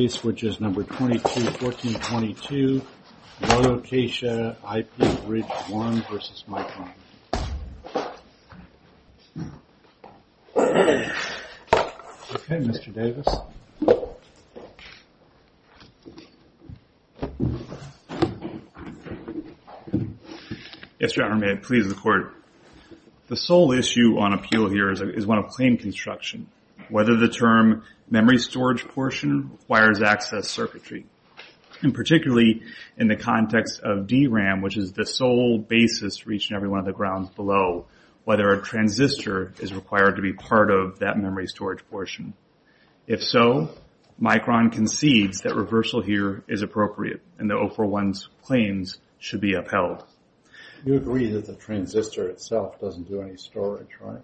Case which is number 22-14-22 Vano Kaisha IP Bridge 1 v. Micron. Okay, Mr. Davis. Yes, Your Honor, may I please the court? The sole issue on appeal here is one of claim construction. Whether the term memory storage portion requires access circuitry, and particularly in the context of DRAM, which is the sole basis for each and every one of the grounds below, whether a transistor is required to be part of that memory storage portion. If so, Micron concedes that reversal here is appropriate, and the 041's claims should be upheld. You agree that the transistor itself doesn't do any storage, right?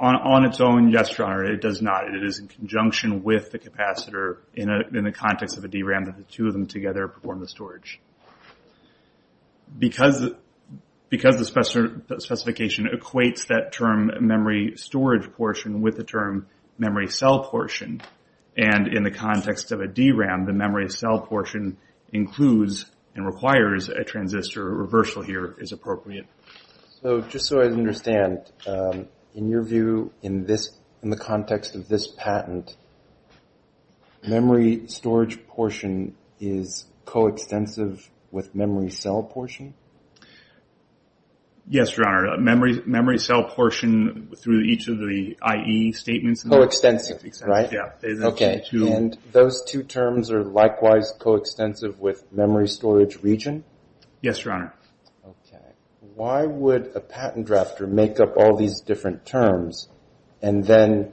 On its own, yes, Your Honor, it does not. It is in conjunction with the capacitor in the context of a DRAM that the two of them together perform the storage. Because the specification equates that term memory storage portion with the term memory cell portion, and in the context of a DRAM the memory cell portion includes and requires a transistor, a reversal here is appropriate. Just so I understand, in your view, in the context of this patent, memory storage portion is coextensive with memory cell portion? Yes, Your Honor, memory cell portion through each of the IE statements. Coextensive, right? Okay, and those two terms are likewise coextensive with memory storage region? Yes, Your Honor. Okay. Why would a patent drafter make up all these different terms and then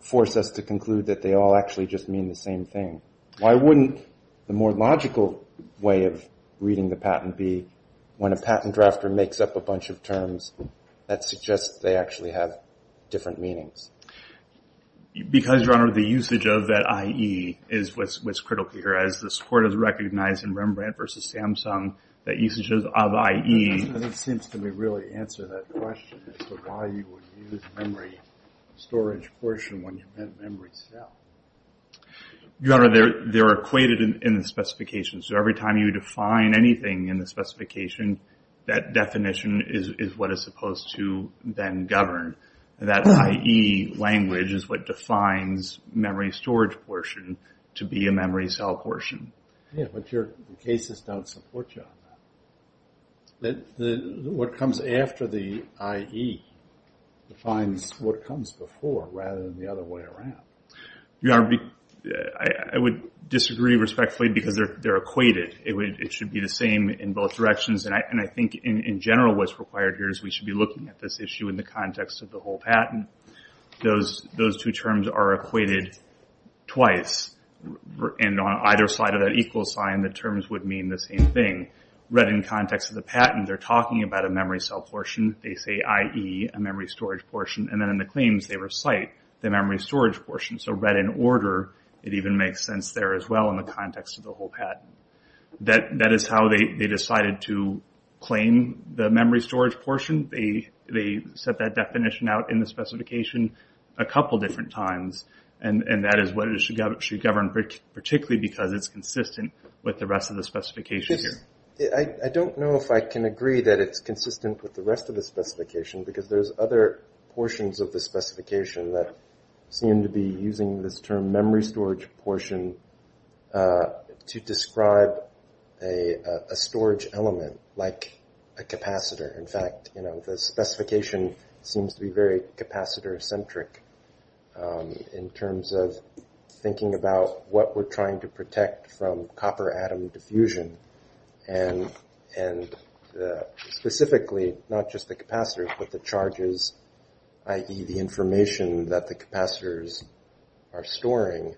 force us to conclude that they all actually just mean the same thing? Why wouldn't the more logical way of reading the patent be when a patent drafter makes up a bunch of terms that suggest they actually have different meanings? Because, Your Honor, the usage of that IE is what's critical here. As the court has recognized in Rembrandt v. Samsung, the usage of IE. It doesn't seem to really answer that question as to why you would use memory storage portion when you meant memory cell. Your Honor, they're equated in the specification. So every time you define anything in the specification, that definition is what is supposed to then govern. That IE language is what defines memory storage portion to be a memory cell portion. Yeah, but your cases don't support you on that. What comes after the IE defines what comes before rather than the other way around. Your Honor, I would disagree respectfully because they're equated. It should be the same in both directions. And I think in general what's required here is we should be looking at this issue in the context of the whole patent. Those two terms are equated twice. And on either side of that equal sign, the terms would mean the same thing. Read in context of the patent, they're talking about a memory cell portion. They say IE, a memory storage portion. And then in the claims, they recite the memory storage portion. So read in order, it even makes sense there as well in the context of the whole patent. That is how they decided to claim the memory storage portion. They set that definition out in the specification a couple different times. And that is what it should govern, particularly because it's consistent with the rest of the specification here. I don't know if I can agree that it's consistent with the rest of the specification because there's other portions of the specification that seem to be using this term, memory storage portion, to describe a storage element like a capacitor. In fact, the specification seems to be very capacitor-centric in terms of thinking about what we're trying to protect from copper atom diffusion and specifically not just the capacitors but the charges, i.e., the information that the capacitors are storing.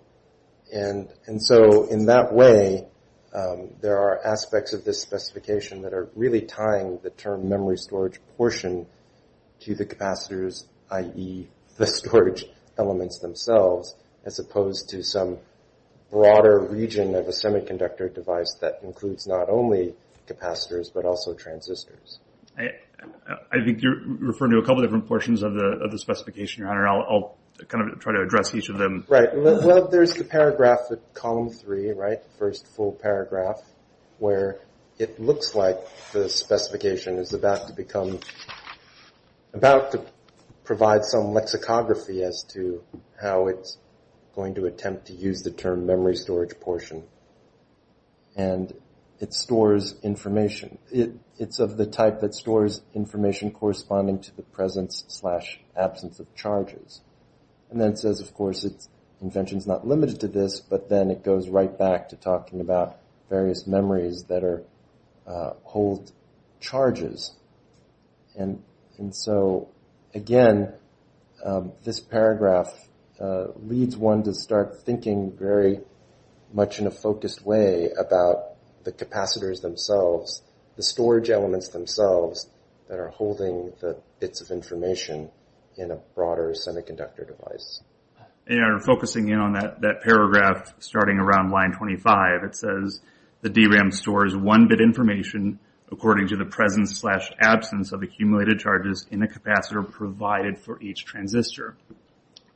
And so in that way, there are aspects of this specification that are really tying the term memory storage portion to the capacitors, i.e., the storage elements themselves, as opposed to some broader region of a semiconductor device that includes not only capacitors but also transistors. I think you're referring to a couple different portions of the specification, Your Honor. I'll kind of try to address each of them. Right. Well, there's the paragraph, column three, right, the first full paragraph, where it looks like the specification is about to become, about to provide some lexicography as to how it's going to attempt to use the term memory storage portion. And it stores information. It's of the type that stores information corresponding to the presence-slash-absence of charges. And then it says, of course, its invention's not limited to this, but then it goes right back to talking about various memories that hold charges. And so, again, this paragraph leads one to start thinking very much in a focused way about the capacitors themselves, the storage elements themselves that are holding the bits of information in a broader semiconductor device. Your Honor, focusing in on that paragraph starting around line 25, it says the DRAM stores 1-bit information according to the presence-slash-absence of accumulated charges in the capacitor provided for each transistor.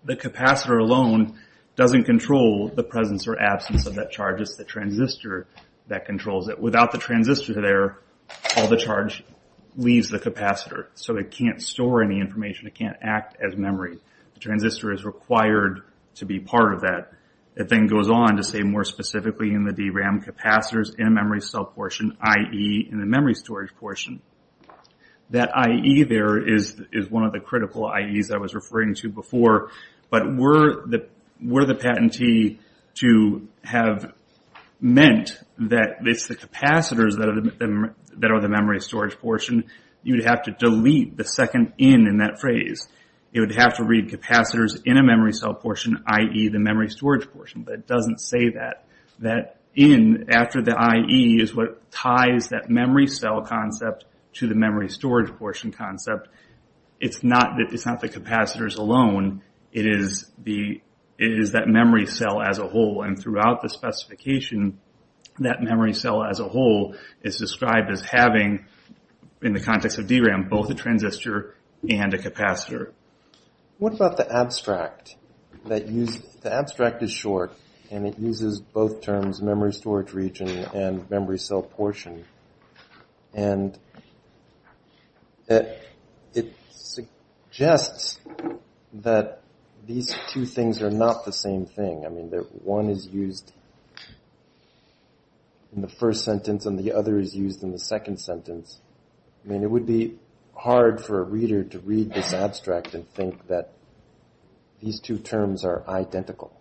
The capacitor alone doesn't control the presence or absence of that charge. It's the transistor that controls it. Without the transistor there, all the charge leaves the capacitor. So it can't store any information. It can't act as memory. The transistor is required to be part of that. It then goes on to say more specifically in the DRAM, capacitors in a memory cell portion, i.e., in the memory storage portion. That i.e. there is one of the critical i.e.s I was referring to before. But were the patentee to have meant that it's the capacitors that are the memory storage portion, you'd have to delete the second in in that phrase. It would have to read capacitors in a memory cell portion, i.e., the memory storage portion. But it doesn't say that. That in after the i.e. is what ties that memory cell concept to the memory storage portion concept. It's not the capacitors alone. It is that memory cell as a whole. And throughout the specification, that memory cell as a whole is described as having, in the context of DRAM, both a transistor and a capacitor. What about the abstract? The abstract is short, and it uses both terms, memory storage region and memory cell portion. And it suggests that these two things are not the same thing. One is used in the first sentence, and the other is used in the second sentence. It would be hard for a reader to read this abstract and think that these two terms are identical.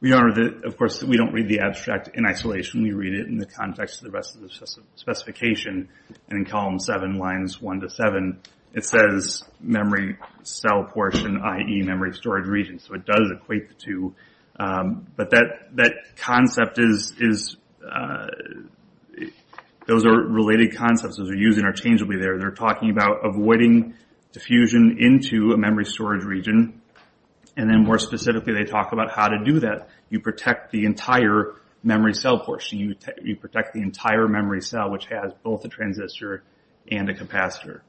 We don't read the abstract in isolation. We read it in the context of the rest of the specification. And in column 7, lines 1 to 7, it says memory cell portion, i.e., memory storage region. So it does equate the two. But that concept is, those are related concepts. Those are used interchangeably there. They're talking about avoiding diffusion into a memory storage region. And then more specifically, they talk about how to do that. You protect the entire memory cell portion. You protect the entire memory cell, which has both a transistor and a capacitor.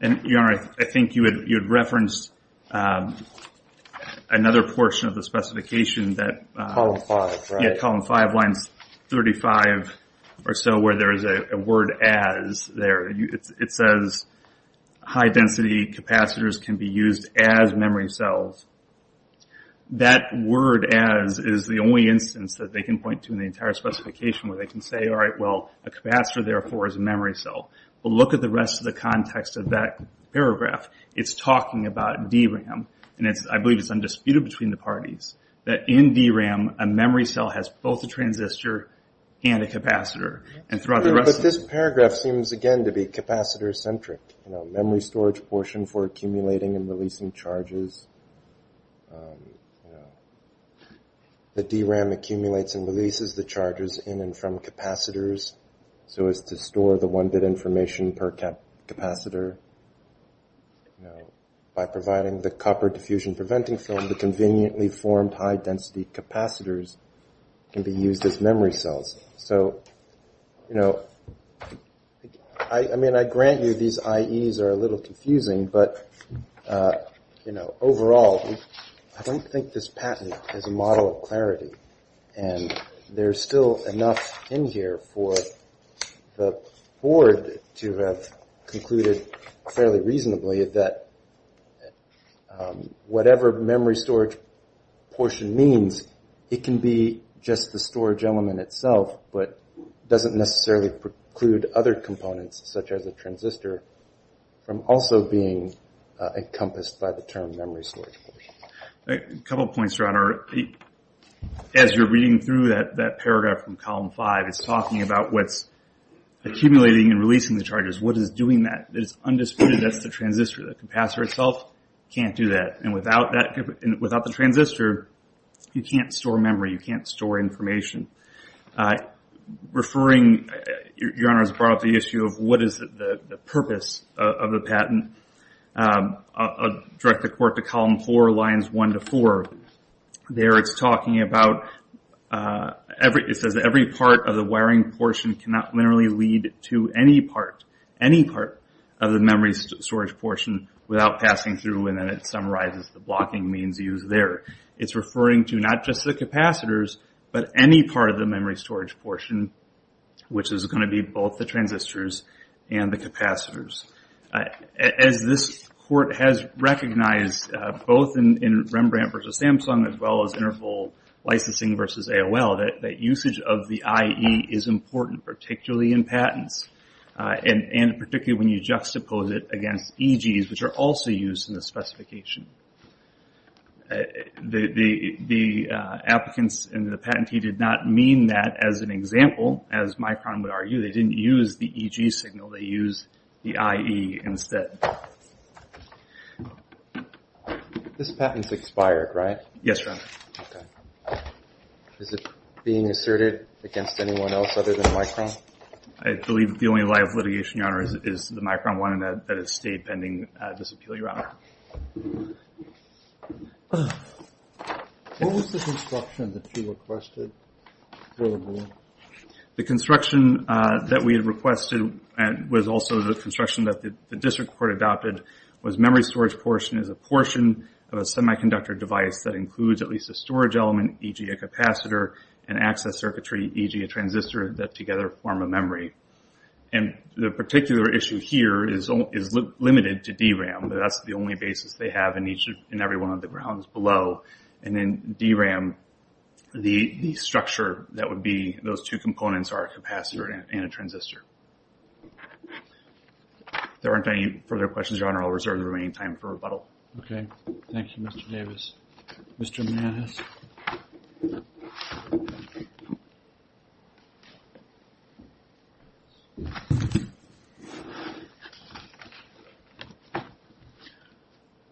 And, Jan, I think you had referenced another portion of the specification. Column 5, right? Yeah, column 5, lines 35 or so, where there is a word as there. It says high-density capacitors can be used as memory cells. That word as is the only instance that they can point to in the entire specification where they can say, all right, well, a capacitor, therefore, is a memory cell. But look at the rest of the context of that paragraph. It's talking about DRAM. And I believe it's undisputed between the parties that in DRAM, a memory cell has both a transistor and a capacitor. But this paragraph seems, again, to be capacitor-centric, memory storage portion for accumulating and releasing charges. The DRAM accumulates and releases the charges in and from capacitors so as to store the one-bit information per capacitor. By providing the copper diffusion-preventing film, the conveniently formed high-density capacitors can be used as memory cells. So, you know, I mean, I grant you these IEs are a little confusing, but, you know, overall, I don't think this patent is a model of clarity, and there's still enough in here for the board to have concluded fairly reasonably that whatever memory storage portion means, it can be just the storage element itself but doesn't necessarily preclude other components, such as a transistor, from also being encompassed by the term memory storage portion. A couple points, Ron. As you're reading through that paragraph from Column 5, it's talking about what's accumulating and releasing the charges. What is doing that? It's undisputed that's the transistor. The capacitor itself can't do that. And without the transistor, you can't store memory. You can't store information. Referring, Your Honor has brought up the issue of what is the purpose of the patent, I'll direct the Court to Column 4, Lines 1 to 4. There it's talking about every part of the wiring portion cannot literally lead to any part, any part of the memory storage portion without passing through, and then it summarizes the blocking means used there. It's referring to not just the capacitors but any part of the memory storage portion, which is going to be both the transistors and the capacitors. As this Court has recognized, both in Rembrandt v. Samsung as well as Interpol licensing v. AOL, that usage of the IE is important, particularly in patents and particularly when you juxtapose it against EGs, which are also used in the specification. The applicants and the patentee did not mean that as an example, as Micron would argue. They didn't use the EG signal. They used the IE instead. This patent's expired, right? Yes, Your Honor. Is it being asserted against anyone else other than Micron? I believe the only live litigation, Your Honor, is the Micron one, and that has stayed pending this appeal, Your Honor. What was the construction that you requested for the board? The construction that we had requested was also the construction that the district court adopted was memory storage portion is a portion of a semiconductor device that includes at least a storage element, e.g. a capacitor, an access circuitry, e.g. a transistor that together form a memory. And the particular issue here is limited to DRAM, but that's the only basis they have in every one of the grounds below. And then DRAM, the structure that would be those two components are a capacitor and a transistor. If there aren't any further questions, Your Honor, I'll reserve the remaining time for rebuttal. Okay. Thank you, Mr. Davis. Mr. Manis.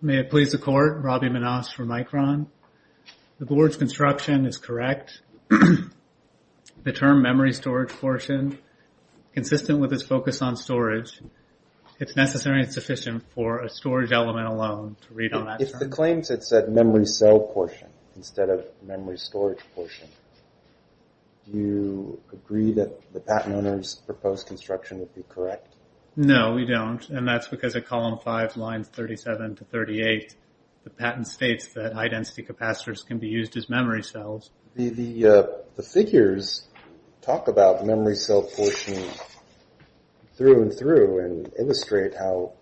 May it please the court, Robbie Manis for Micron. The board's construction is correct. The term memory storage portion, consistent with its focus on storage, it's necessary and sufficient for a storage element alone to read on that. If the claims had said memory cell portion instead of memory storage portion, do you agree that the patent owner's proposed construction would be correct? No, we don't. And that's because at column 5, lines 37 to 38, the patent states that high-density capacitors can be used as memory cells. The figures talk about memory cell portion through and through and illustrate how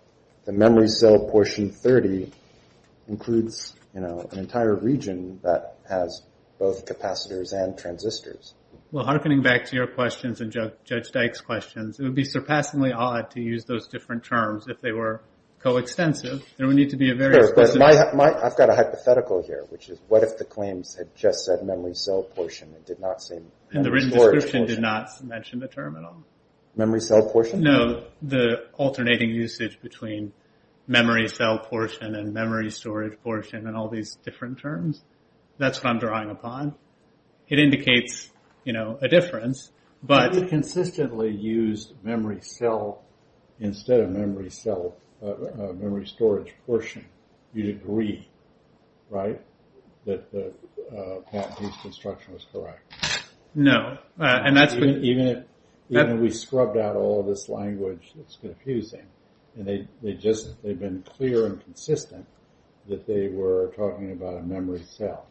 the memory cell portion 30 includes an entire region that has both capacitors and transistors. Well, hearkening back to your questions and Judge Dyke's questions, it would be surpassingly odd to use those different terms if they were coextensive. There would need to be a very explicit... I've got a hypothetical here, which is what if the claims had just said memory cell portion and did not say memory storage portion? And the written description did not mention the term at all. Memory cell portion? No, the alternating usage between memory cell portion and memory storage portion and all these different terms. That's what I'm drawing upon. It indicates a difference, but... If it consistently used memory cell instead of memory storage portion, you'd agree, right, that the patent use construction was correct? No. Even if we scrubbed out all this language that's confusing and they've been clear and consistent that they were talking about a memory cell.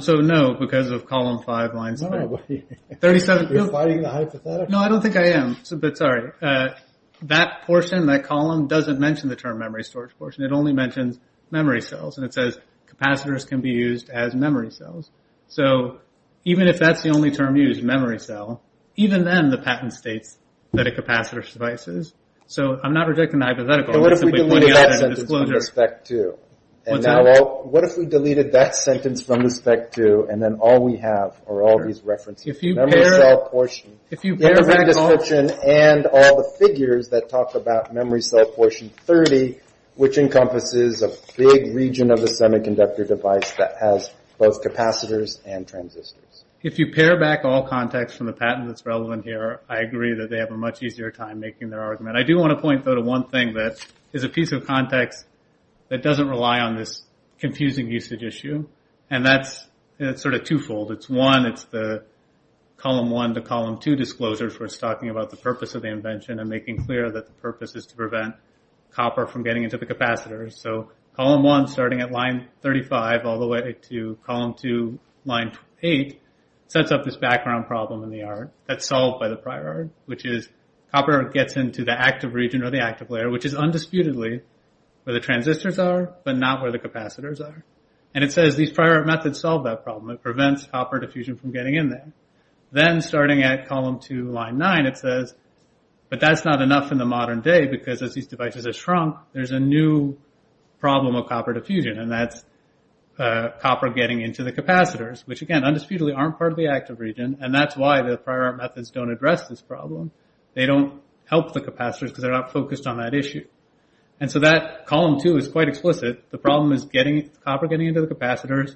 So, no, because of column 5, line 7. No, but you're fighting the hypothetical. No, I don't think I am, but sorry. That portion, that column, doesn't mention the term memory storage portion. It only mentions memory cells, and it says capacitors can be used as memory cells. So even if that's the only term used, memory cell, even then the patent states that a capacitor suffices. So I'm not rejecting the hypothetical. What if we deleted that sentence from the spec 2? What's that? What if we deleted that sentence from the spec 2, and then all we have are all these references? The memory cell portion, the written description, and all the figures that talk about memory cell portion 30, which encompasses a big region of the semiconductor device that has both capacitors and transistors. If you pare back all context from the patent that's relevant here, I agree that they have a much easier time making their argument. I do want to point, though, to one thing that is a piece of context that doesn't rely on this confusing usage issue, and that's sort of twofold. It's one, it's the column 1 to column 2 disclosures where it's talking about the purpose of the invention and making clear that the purpose is to prevent copper from getting into the capacitors. So column 1 starting at line 35 all the way to column 2 line 8 sets up this background problem in the art that's solved by the prior art, which is copper gets into the active region or the active layer, which is undisputedly where the transistors are, but not where the capacitors are. And it says these prior art methods solve that problem. It prevents copper diffusion from getting in there. Then starting at column 2 line 9 it says, but that's not enough in the modern day because as these devices have shrunk, there's a new problem of copper diffusion, and that's copper getting into the capacitors, which again undisputedly aren't part of the active region, and that's why the prior art methods don't address this problem. They don't help the capacitors because they're not focused on that issue. And so that column 2 is quite explicit. The problem is copper getting into the capacitors.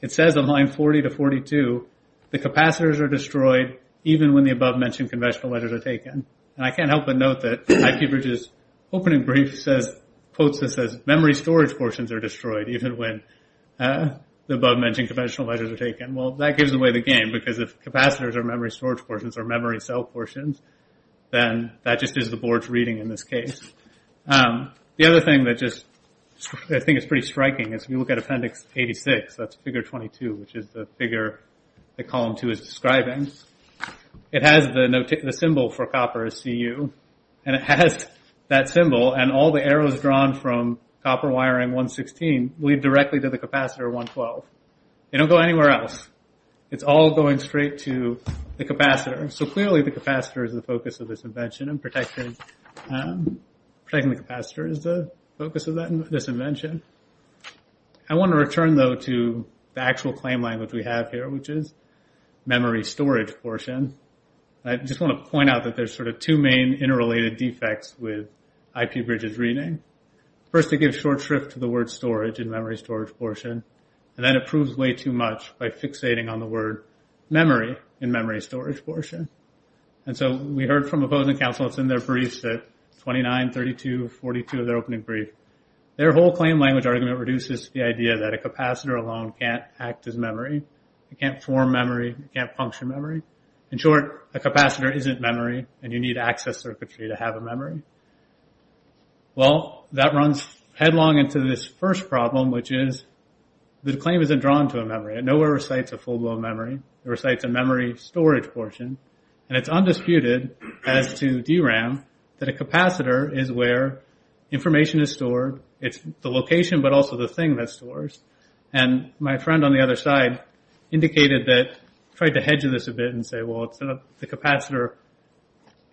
It says on line 40 to 42 the capacitors are destroyed even when the above-mentioned conventional ledgers are taken. And I can't help but note that IQBridge's opening brief says, quotes this as, memory storage portions are destroyed even when the above-mentioned conventional ledgers are taken. Well, that gives away the game because if capacitors are memory storage portions or memory cell portions, then that just is the board's reading in this case. The other thing that just I think is pretty striking is if you look at appendix 86, that's figure 22, which is the figure that column 2 is describing. It has the symbol for copper as CU, and it has that symbol, and all the arrows drawn from copper wiring 116 lead directly to the capacitor 112. They don't go anywhere else. It's all going straight to the capacitor. So clearly the capacitor is the focus of this invention, and protecting the capacitor is the focus of this invention. I want to return though to the actual claim language we have here, which is memory storage portion. I just want to point out that there's sort of two main interrelated defects with IQBridge's reading. First, it gives short shrift to the word storage in memory storage portion, and then it proves way too much by fixating on the word memory in memory storage portion. And so we heard from opposing counsels in their briefs at 29, 32, 42 of their opening brief. Their whole claim language argument reduces to the idea that a capacitor alone can't act as memory. It can't form memory. It can't function memory. In short, a capacitor isn't memory, and you need access circuitry to have a memory. Well, that runs headlong into this first problem, which is the claim isn't drawn to a memory. It nowhere recites a full-blown memory. It recites a memory storage portion, and it's undisputed as to DRAM that a capacitor is where information is stored. It's the location, but also the thing that stores. And my friend on the other side indicated that, tried to hedge this a bit and say, well, the capacitor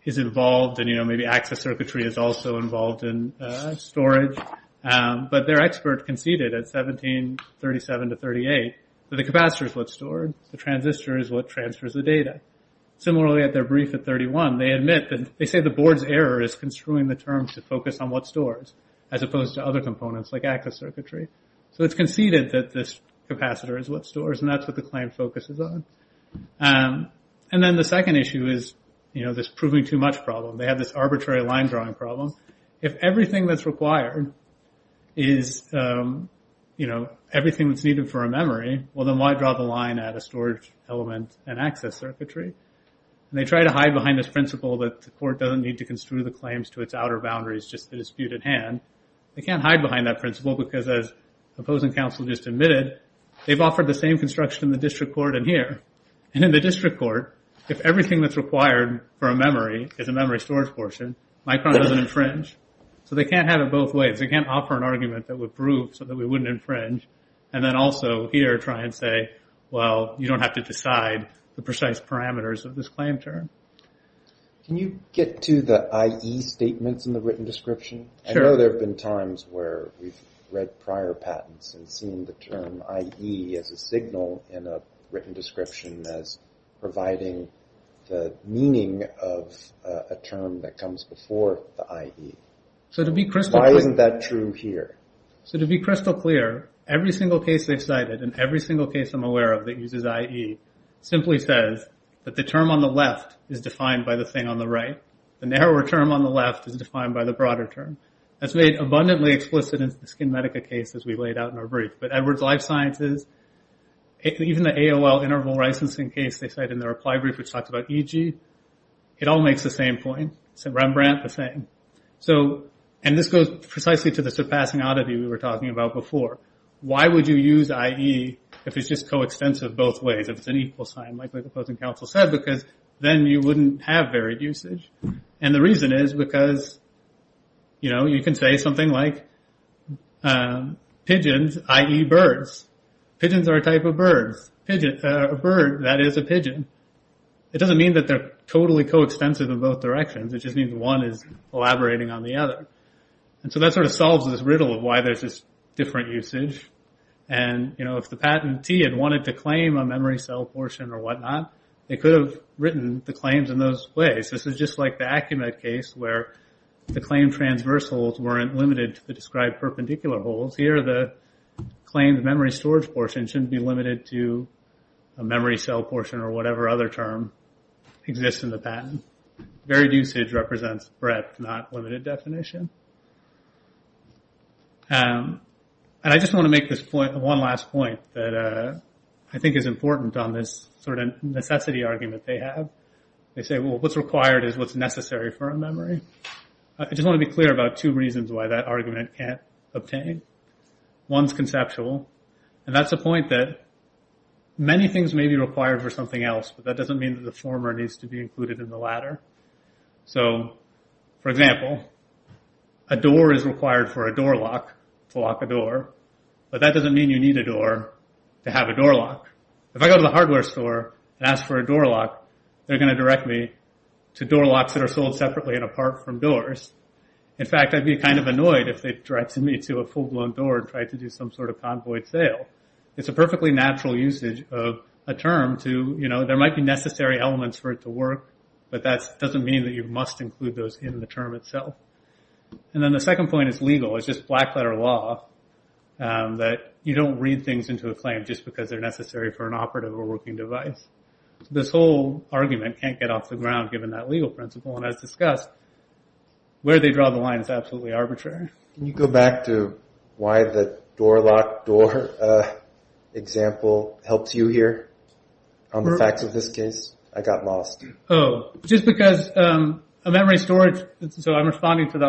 is involved, and maybe access circuitry is also involved in storage. But their expert conceded at 17, 37 to 38 that the capacitor is what's stored. The transistor is what transfers the data. Similarly, at their brief at 31, they admit that they say the board's error is construing the term to focus on what stores as opposed to other components like access circuitry. So it's conceded that this capacitor is what stores, and that's what the claim focuses on. And then the second issue is this proving too much problem. They have this arbitrary line drawing problem. If everything that's required is, you know, everything that's needed for a memory, well, then why draw the line at a storage element and access circuitry? And they try to hide behind this principle that the court doesn't need to construe the claims to its outer boundaries, just the disputed hand. They can't hide behind that principle because as the opposing counsel just admitted, they've offered the same construction in the district court and here. And in the district court, if everything that's required for a memory is a memory storage portion, Micron doesn't infringe. So they can't have it both ways. They can't offer an argument that would prove so that we wouldn't infringe, and then also here try and say, well, you don't have to decide the precise parameters of this claim term. Can you get to the IE statements in the written description? I know there have been times where we've read prior patents and seen the term IE as a signal in a written description as providing the meaning of a term that comes before the IE. Why isn't that true here? So to be crystal clear, every single case they've cited and every single case I'm aware of that uses IE simply says that the term on the left is defined by the thing on the right. The narrower term on the left is defined by the broader term. That's made abundantly explicit in the SkinMedica case as we laid out in our brief. But Edwards Life Sciences, even the AOL interval licensing case they cite in their reply brief which talks about EG, it all makes the same point. It's a Rembrandt, the same. So, and this goes precisely to the surpassing oddity we were talking about before. Why would you use IE if it's just coextensive both ways, if it's an equal sign like the opposing counsel said, because then you wouldn't have varied usage. And the reason is because you can say something like pigeons IE birds. Pigeons are a type of birds. A bird that is a pigeon. It doesn't mean that they're totally coextensive in both directions. It just means one is elaborating on the other. And so that sort of solves this riddle of why there's this different usage. And if the patentee had wanted to claim a memory cell portion or whatnot, they could have written the claims in those ways. This is just like the Acumet case where the claim transversals weren't limited to the described perpendicular holes. Here the claimed memory storage portion shouldn't be limited to a memory cell portion or whatever other term exists in the patent. Varied usage represents breadth, not limited definition. And I just want to make this one last point that I think is important on this sort of necessity argument they have. They say, well, what's required is what's necessary for a memory. I just want to be clear about two reasons why that argument can't obtain. One's conceptual. And that's the point that many things may be required for something else, but that doesn't mean that the former needs to be included in the latter. So, for example, a door is required for a door lock to lock a door. But that doesn't mean you need a door to have a door lock. If I go to the hardware store and ask for a door lock, they're going to direct me to door locks that are sold separately and apart from doors. In fact, I'd be kind of annoyed if they directed me to a full-blown door and tried to do some sort of convoyed sale. It's a perfectly natural usage of a term to, you know, there might be necessary elements for it to work, but that doesn't mean that you must include those in the term itself. And then the second point is legal. It's just black-letter law that you don't read things into a claim just because they're necessary for an operative or working device. This whole argument can't get off the ground given that legal principle. And as discussed, where they draw the line is absolutely arbitrary. Can you go back to why the door lock door example helps you here on the facts of this case? I got lost. Oh. Just because a memory storage... as I understand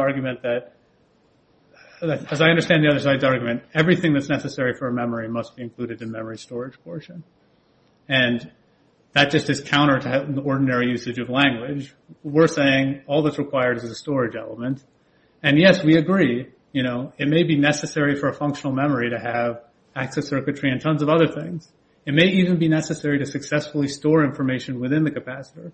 the other side's argument, everything that's necessary for a memory must be included in memory storage portion. And that just is counter to the ordinary usage of language. We're saying all that's required is a storage element. And yes, we agree, you know, it may be necessary for a functional memory to have access circuitry and tons of other things. It may even be necessary to successfully store information within the capacitor.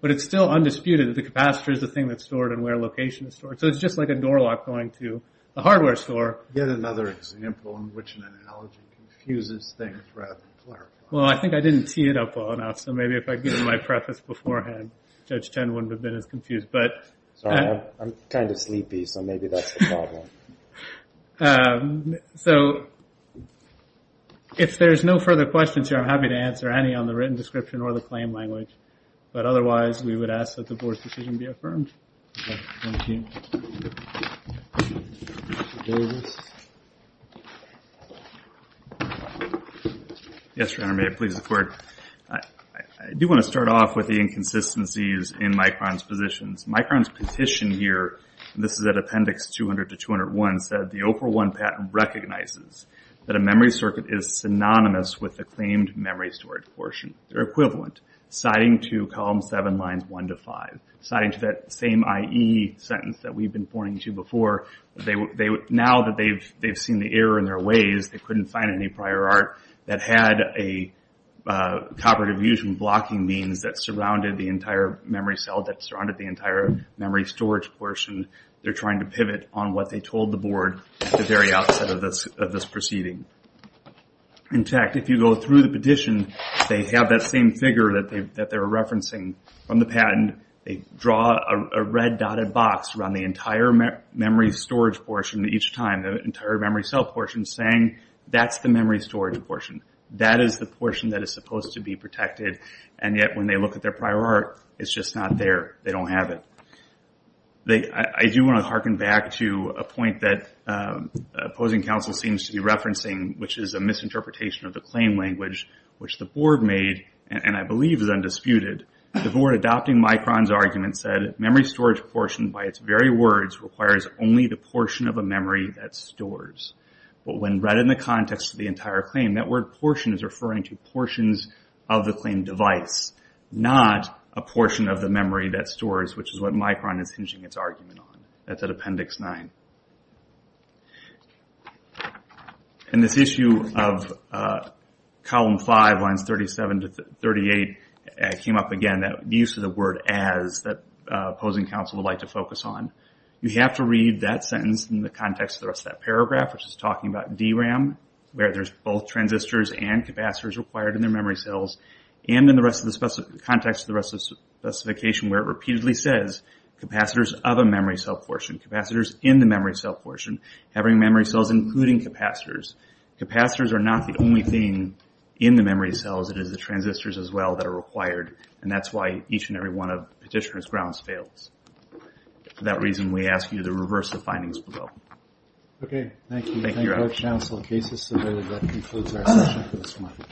But it's still undisputed that the capacitor is the thing that's stored and where location is stored. So it's just like a door lock going to the hardware store. Or yet another example in which an analogy confuses things rather than clarifies them. Well, I think I didn't tee it up well enough, so maybe if I'd given my preface beforehand, Judge Chen wouldn't have been as confused. Sorry, I'm kind of sleepy, so maybe that's the problem. If there's no further questions here, I'm happy to answer any on the written description or the claim language. But otherwise, we would ask that the board's decision be affirmed. Thank you. Mr. Davis. Yes, Your Honor, may I please the court? I do want to start off with the inconsistencies in Micron's positions. Micron's petition here, this is at appendix 200 to 201, said the OPR1 patent recognizes that a memory circuit is synonymous with the claimed memory storage portion. They're equivalent, citing to column seven, lines one to five. Citing to that same IE sentence that we've been pointing to before, now that they've seen the error in their ways, they couldn't find any prior art that had a copper diffusion blocking means that surrounded the entire memory cell, that surrounded the entire memory storage portion. They're trying to pivot on what they told the board at the very outset of this proceeding. In fact, if you go through the petition, they have that same figure that they're referencing from the patent. They draw a red dotted box around the entire memory storage portion each time, the entire memory cell portion, saying that's the memory storage portion. That is the portion that is supposed to be protected, and yet when they look at their prior art, it's just not there. They don't have it. I do want to hearken back to a point that opposing counsel seems to be referencing, which is a misinterpretation of the claim language, which the board made, and I believe is undisputed. The board adopting Micron's argument said, memory storage portion, by its very words, requires only the portion of a memory that stores. But when read in the context of the entire claim, that word portion is referring to portions of the claim device, not a portion of the memory that stores, which is what Micron is hinging its argument on. That's at appendix nine. This issue of column five, lines 37 to 38, came up again, that use of the word as, that opposing counsel would like to focus on. You have to read that sentence in the context of the rest of that paragraph, which is talking about DRAM, where there's both transistors and capacitors required in their memory cells, and in the context of the rest of the specification, where it repeatedly says, capacitors of a memory cell portion, capacitors in the memory cell portion, having memory cells including capacitors. Capacitors are not the only thing in the memory cells. It is the transistors as well that are required, and that's why each and every one of petitioner's grounds fails. For that reason, we ask you to reverse the findings below. Okay, thank you. Thank you, Your Honor. Thank you, Judge Counsel. Case is submitted. That concludes our session for this morning.